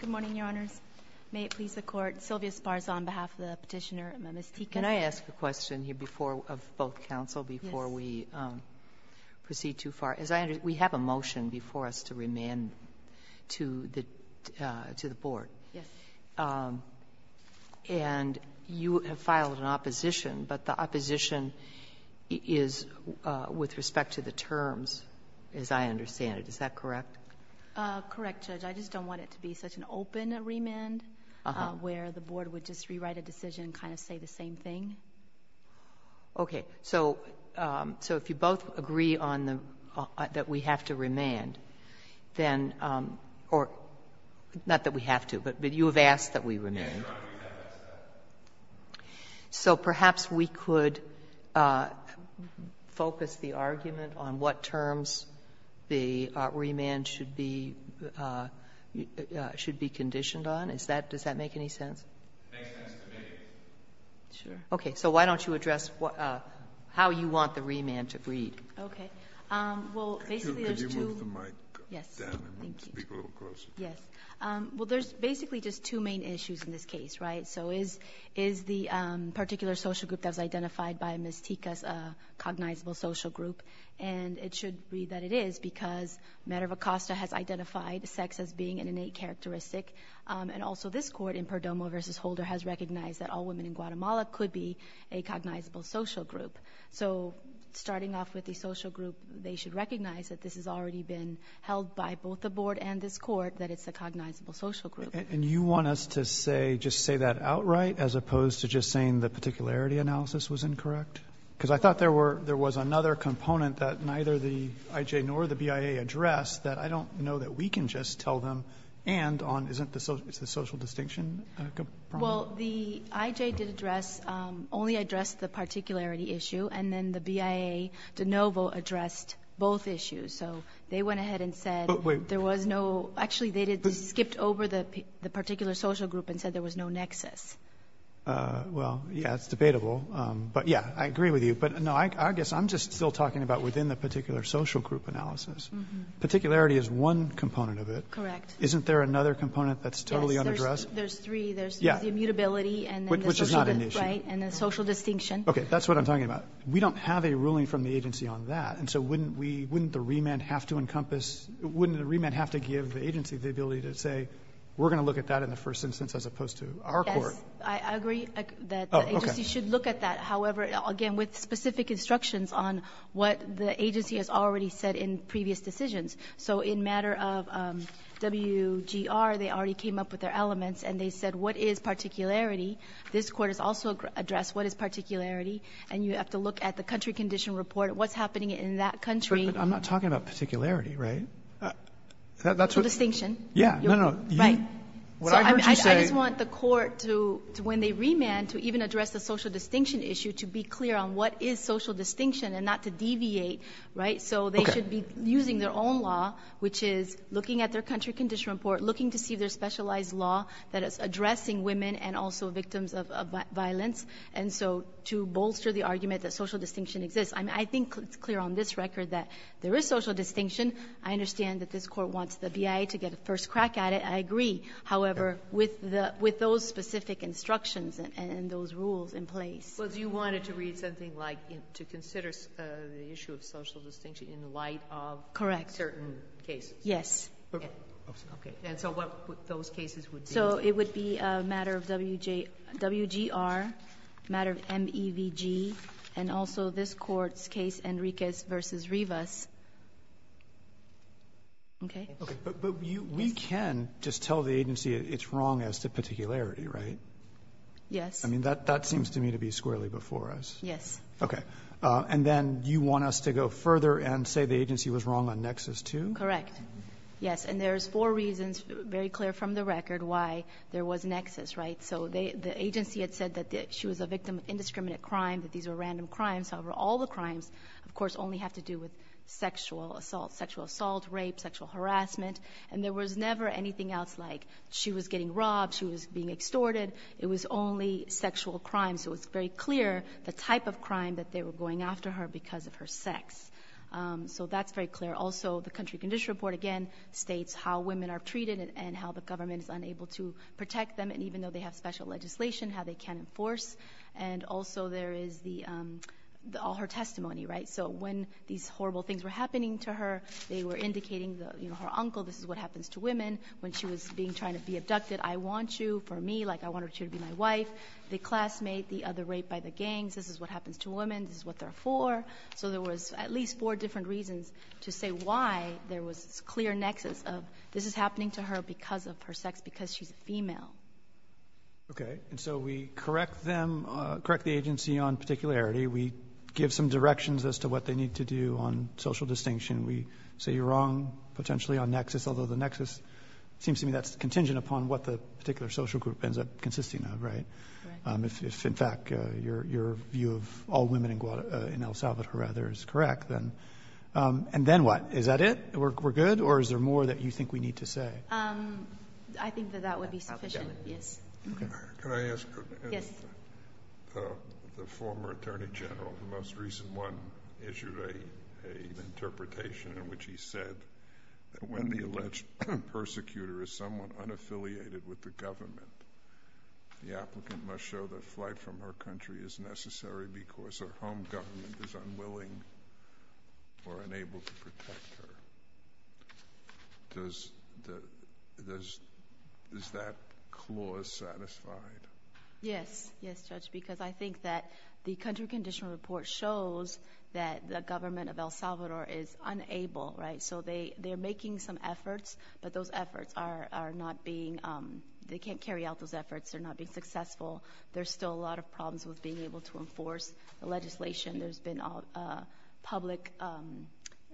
Good morning, Your Honors. May it please the Court, Sylvia Spars on behalf of the Petitioner and Ms. Ticas. Can I ask a question here before, of both counsel, before we proceed too far? As I understand, we have a motion before us to remand to the Board. Yes. And you have filed an opposition, but the opposition is with respect to the terms, as I understand it. Is that correct? Correct, Judge. I just don't want it to be such an open remand, where the Board would just rewrite a decision and kind of say the same thing. Okay. So if you both agree that we have to remand, then or not that we have to, but you have asked that we remand. Yes, Your Honor, we have asked that. So perhaps we could focus the argument on what terms the remand should be conditioned on. Is that — does that make any sense? It makes sense to me. Sure. Okay. So why don't you address how you want the remand to read. Okay. Well, basically, there's two — Could you move the mic down and speak a little closer? Yes. Thank you. Yes. Well, there's basically just two main issues in this case, right? So is the particular social group that was identified by Ms. Ticas a cognizable social group? And it should be that it is, because Medova-Costa has identified sex as being an innate characteristic, and also this Court in Perdomo v. Holder has recognized that all women in Guatemala could be a cognizable social group. So starting off with the social group, they should recognize that this has already been held by both the Board and this Court, that it's a cognizable social group. And you want us to say — just say that outright as opposed to just saying the particularity analysis was incorrect? Because I thought there were — there was another component that neither the IJ nor the BIA addressed that I don't know that we can just tell them, and on — isn't the social distinction a problem? Well, the IJ did address — only addressed the particularity issue, and then the BIA, de novo, addressed both issues. So they went ahead and said there was no — actually, they skipped over the particular social group and said there was no nexus. Well, yeah, it's debatable. But, yeah, I agree with you. But, no, I guess I'm just still talking about within the particular social group analysis. Particularity is one component of it. Correct. Isn't there another component that's totally unaddressed? Yes. There's three. There's the immutability and then the social — Which is not an issue. Right. And the social distinction. Okay. That's what I'm talking about. We don't have a ruling from the agency on that. And so wouldn't we — wouldn't the remand have to encompass — wouldn't the remand have to give the agency the ability to say we're going to look at that in the first instance as opposed to our court? Yes. I agree that the agency should look at that. However, again, with specific instructions on what the agency has already said in previous decisions. So in matter of WGR, they already came up with their elements, and they said what is particularity. This Court has also addressed what is particularity. And you have to look at the country condition report, what's happening in that country. But I'm not talking about particularity, right? Social distinction. Yeah. No, no. Right. What I heard you say — I just want the Court to, when they remand, to even address the social distinction issue, to be clear on what is social distinction and not to deviate, right? So they should be using their own law, which is looking at their country condition report, looking to see if there's specialized law that is addressing women and also victims of violence, and so to bolster the argument that social distinction exists. I think it's clear on this record that there is social distinction. I understand that this Court wants the BIA to get a first crack at it. I agree. However, with the — with those specific instructions and those rules in place. But you wanted to read something like to consider the issue of social distinction in light of certain cases? Correct. Yes. Okay. And so what those cases would be? So it would be a matter of WGR, matter of MEVG, and also this Court's case, Enriquez v. Rivas. Okay? Okay. But we can just tell the agency it's wrong as to particularity, right? Yes. I mean, that seems to me to be squarely before us. Yes. Okay. And then you want us to go further and say the agency was wrong on Nexus, too? Correct. Yes. And there's four reasons, very clear from the record, why there was Nexus, right? So the agency had said that she was a victim of indiscriminate crime, that these were random crimes. However, all the crimes, of course, only have to do with sexual assault, sexual assault, rape, sexual harassment. And there was never anything else like she was getting robbed, she was being extorted. It was only sexual crime. So it's very clear the type of crime that they were going after her because of her sex. So that's very clear. Also, the country condition report, again, states how women are treated and how the government is unable to protect them, and even though they have special legislation, how they can enforce. And also there is all her testimony, right? So when these horrible things were happening to her, they were indicating, you know, her uncle, this is what happens to women. When she was being, trying to be abducted, I want you for me, like I wanted you to be my wife. The classmate, the other rape by the gangs, this is what So there was at least four different reasons to say why there was this clear nexus of this is happening to her because of her sex, because she's a female. Okay. And so we correct them, correct the agency on particularity. We give some directions as to what they need to do on social distinction. We say you're wrong potentially on nexus, although the nexus seems to me that's contingent upon what the particular social group ends up consisting of, right? Correct. Your view of all women in El Salvador, rather, is correct then. And then what? Is that it? We're good? Or is there more that you think we need to say? I think that that would be sufficient. Yes. Can I ask the former Attorney General, the most recent one, issued an interpretation in which he said that when the alleged persecutor is somewhat unaffiliated with the government, the applicant must show that flight from her country is necessary because her home government is unwilling or unable to protect her. Does that clause satisfy? Yes. Yes, Judge, because I think that the country conditional report shows that the government of El Salvador is unable, right? So they're making some efforts, but those they can't carry out those efforts. They're not being successful. There's still a lot of problems with being able to enforce the legislation. There's been public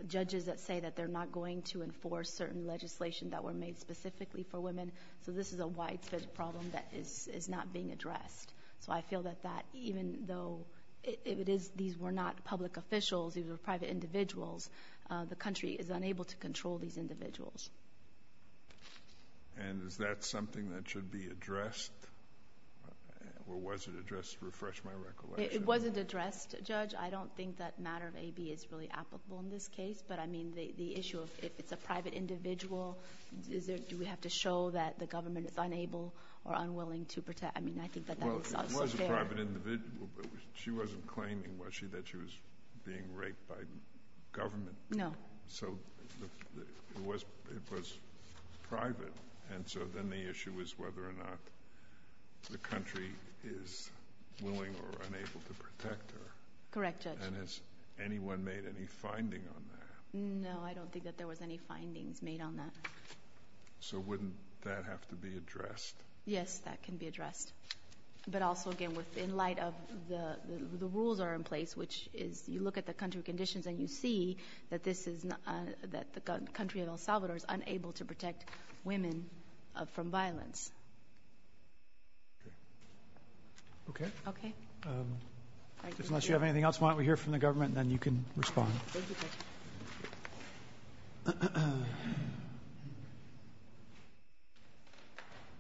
judges that say that they're not going to enforce certain legislation that were made specifically for women. So this is a widespread problem that is not being addressed. So I feel that that, even though it is, these were not public officials, these were private individuals, the country is unable to control these individuals. And is that something that should be addressed or was it addressed? Refresh my recollection. It wasn't addressed, Judge. I don't think that matter of AB is really applicable in this case, but I mean, the issue of if it's a private individual, do we have to show that the government is unable or unwilling to protect? I mean, I think that that would sound fair. Well, it was a private individual, but she wasn't claiming, was she, that she was being raped by government? No. So it was private. And so then the issue is whether or not the country is willing or unable to protect her. Correct, Judge. And has anyone made any finding on that? No, I don't think that there was any findings made on that. So wouldn't that have to be addressed? Yes, that can be addressed. But also again, in light of the rules that are in place, which is you look at the country conditions and you see that the country of El Salvador is unable to protect women from violence. Okay. Okay. Unless you have anything else, why don't we hear from the government and then you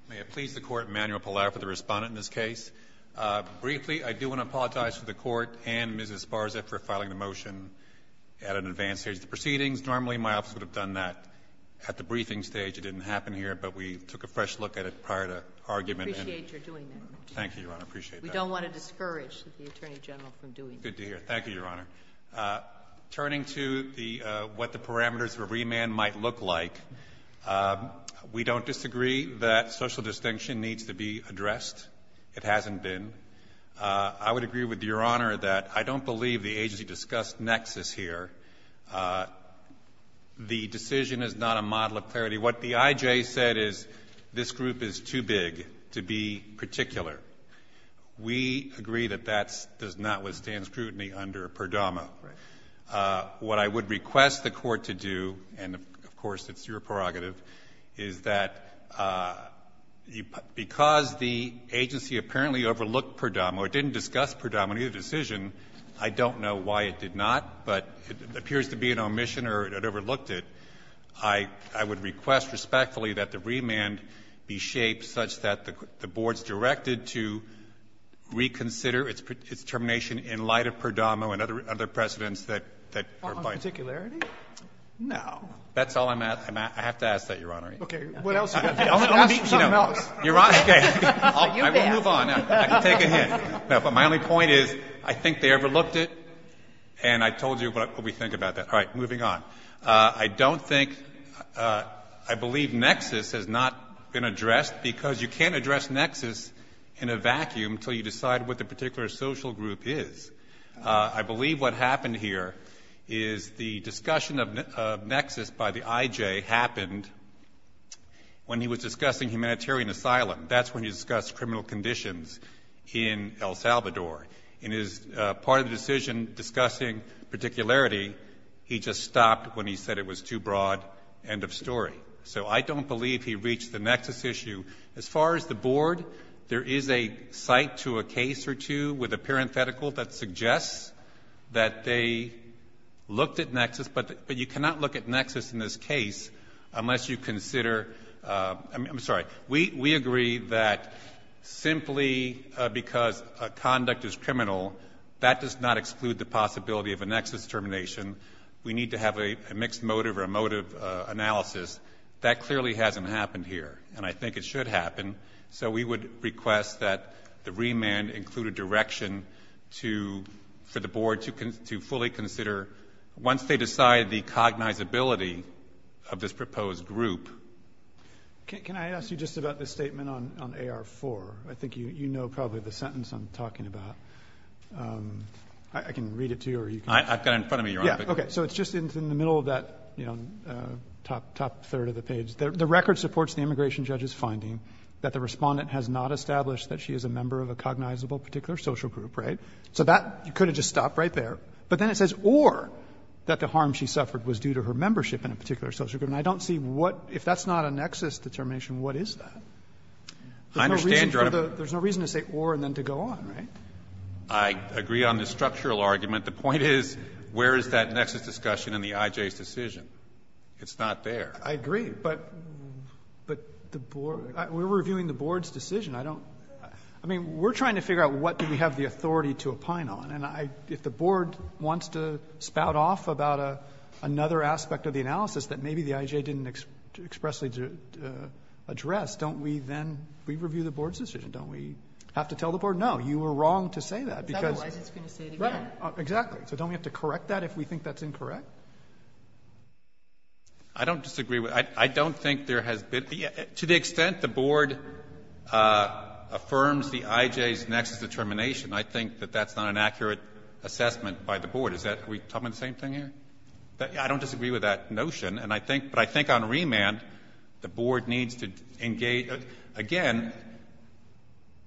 May I please the Court, Emanuel Pallaro, for the Respondent in this case. Briefly, I do want to apologize to the Court and Mrs. Sparza for filing the motion at an advanced stage. The proceedings, normally my office would have done that at the briefing stage. It didn't happen here, but we took a fresh look at it prior to argument. We appreciate your doing that. Thank you, Your Honor. I appreciate that. We don't want to discourage the Attorney General from doing that. Good to hear. Thank you, Your Honor. I would like to conclude the what the parameters of remand might look like. We don't disagree that social distinction needs to be addressed. It hasn't been. I would agree with Your Honor that I don't believe the agency discussed nexus here. The decision is not a model of clarity. What the I.J. said is this group is too big to be particular. We agree that that's does not withstand scrutiny under PERDAMA. Right. What I would request the Court to do, and of course it's your prerogative, is that because the agency apparently overlooked PERDAMA or didn't discuss PERDAMA in either decision, I don't know why it did not, but it appears to be an omission or it overlooked it. I would request respectfully that the remand be shaped such that the board's directed to reconsider its termination in light of PERDAMA and other precedents that are by it. On particularity? No. That's all I'm asking. I have to ask that, Your Honor. Okay. What else do you want to ask? You know, Your Honor, okay. I won't move on. I can take a hint. No, but my only point is I think they overlooked it, and I told you what we think about that. All right. Moving on. I don't think — I believe nexus has not been addressed because you can't address nexus in a vacuum until you decide what the particular social group is. I believe what happened here is the discussion of nexus by the IJ happened when he was discussing humanitarian asylum. That's when he discussed criminal conditions in El Salvador. In his part of the decision discussing particularity, he just stopped when he said it was too broad. End of story. So I don't believe he reached the nexus issue. As far as the board, there is a site to a case or two with a parenthetical that suggests that they looked at nexus, but you cannot look at nexus in this case unless you consider — I'm sorry. We agree that simply because a conduct is criminal, that does not exclude the possibility of a nexus termination. We need to have a mixed motive or a motive analysis. That clearly hasn't happened here, and I think it should happen. So we would request that the remand include a direction to — for the board to fully consider once they decide the cognizability of this proposed group. Can I ask you just about the statement on AR-4? I think you know probably the sentence I'm talking about. I can read it to you, or you can — I've got it in front of me. You're on, but — Yeah. Okay. So it's just in the middle of that, you know, top third of the page. The record supports the immigration judge's finding that the Respondent has not established that she is a member of a cognizable particular social group, right? So that could have just stopped right there. But then it says, or that the harm she suffered was due to her membership in a particular social group. And I don't see what — if that's not a nexus determination, what is that? There's no reason to say or and then to go on, right? I agree on the structural argument. The point is, where is that nexus discussion in the IJ's decision? It's not there. I agree. But — but the board — we're reviewing the board's decision. I don't — I mean, we're trying to figure out what do we have the authority to opine on. And I — if the board wants to spout off about another aspect of the analysis that maybe the IJ didn't expressly address, don't we then — we review the board's decision. Don't we have to tell the board, no, you were wrong to say that, because — Otherwise it's going to say it again. Right. Exactly. So don't we have to correct that if we think that's incorrect? I don't disagree with — I don't think there has been — to the extent the board affirms the IJ's nexus determination, I think that that's not an accurate assessment by the board. Is that — are we talking about the same thing here? I don't disagree with that notion. And I think — but I think on remand, the board needs to engage — again,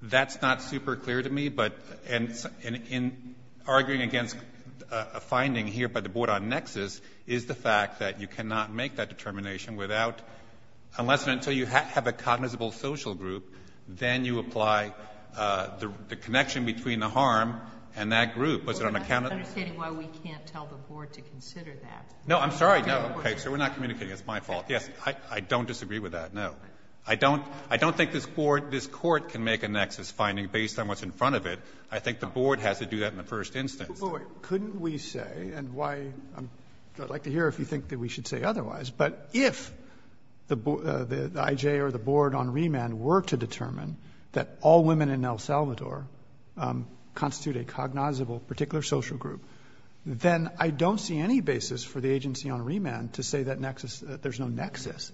that's not super clear to me. But in arguing against a finding here by the board on nexus is the fact that you cannot make that determination without — unless and until you have a cognizable social group, then you apply the connection between the harm and that group. Was it unaccounted for? We're not understanding why we can't tell the board to consider that. No, I'm sorry. No, okay. So we're not communicating. It's my fault. Yes, I don't disagree with that. No. I don't — I don't think this board, this court can make a nexus finding based on what's in front of it. I think the board has to do that in the first instance. Roberts, couldn't we say, and why — I'd like to hear if you think that we should say otherwise. But if the I.J. or the board on remand were to determine that all women in El Salvador constitute a cognizable particular social group, then I don't see any basis for the agency on remand to say that nexus — there's no nexus.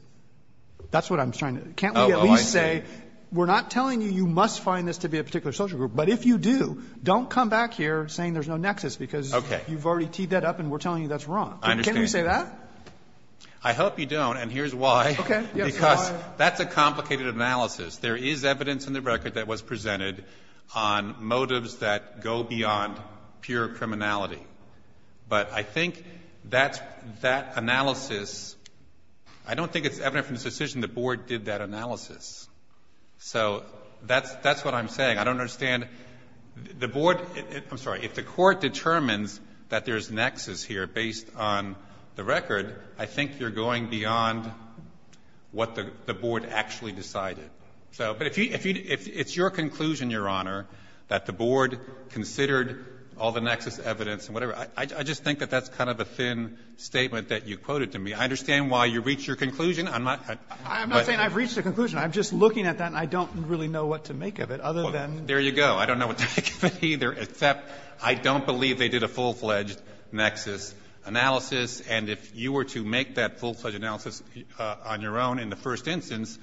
That's what I'm trying to — can't we at least say we're not telling you you must find this to be a particular social group? But if you do, don't come back here saying there's no nexus, because you've already teed that up and we're telling you that's wrong. I understand. Can't we say that? I hope you don't, and here's why. Okay. Because that's a complicated analysis. There is evidence in the record that was presented on motives that go beyond pure criminality. But I think that's — that analysis — I don't think it's evident from this decision the board did that analysis. So that's — that's what I'm saying. I don't understand the board — I'm sorry. If the Court determines that there's nexus here based on the record, I think you're going beyond what the board actually decided. So — but if you — if it's your conclusion, Your Honor, that the board considered all the nexus evidence and whatever, I just think that that's kind of a thin statement that you quoted to me. I understand why you reached your conclusion. I'm not — I'm not saying I've reached a conclusion. I'm just looking at that, and I don't really know what to make of it, other than — Well, there you go. I don't know what to make of it either, except I don't believe they did a full-fledged nexus analysis. And if you were to make that full-fledged analysis on your own in the first instance,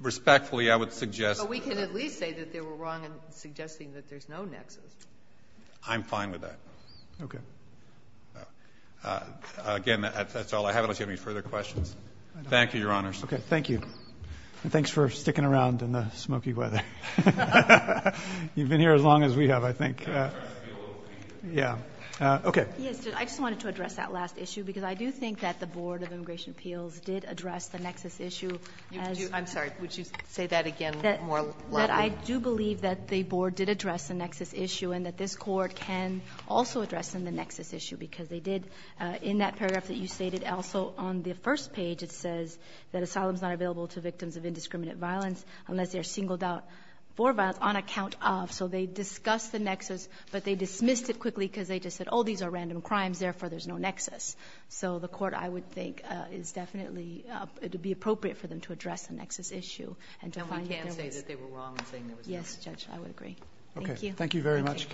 respectfully, I would suggest — But we can at least say that they were wrong in suggesting that there's no nexus. I'm fine with that. Okay. Again, that's all I have, unless you have any further questions. Thank you, Your Honors. Okay. Thank you. And thanks for sticking around in the smoky weather. You've been here as long as we have, I think. Yeah. Okay. Yes. I just wanted to address that last issue, because I do think that the Board of Immigration Appeals did address the nexus issue as — I'm sorry. Would you say that again more loudly? That I do believe that the board did address the nexus issue, and that this Court can also address in the nexus issue, because they did, in that paragraph that you stated, also, on the first page, it says that asylum is not available to victims of indiscriminate violence unless they are singled out for violence on account of. So they discussed the nexus, but they dismissed it quickly because they just said, oh, these are random crimes, therefore there's no nexus. So the Court, I would think, is definitely — it would be appropriate for them to address the nexus issue and to find that there was — No, I can't say that they were wrong in saying there was no nexus. Yes, Judge. I would agree. Thank you. Okay. Thank you very much, counsel.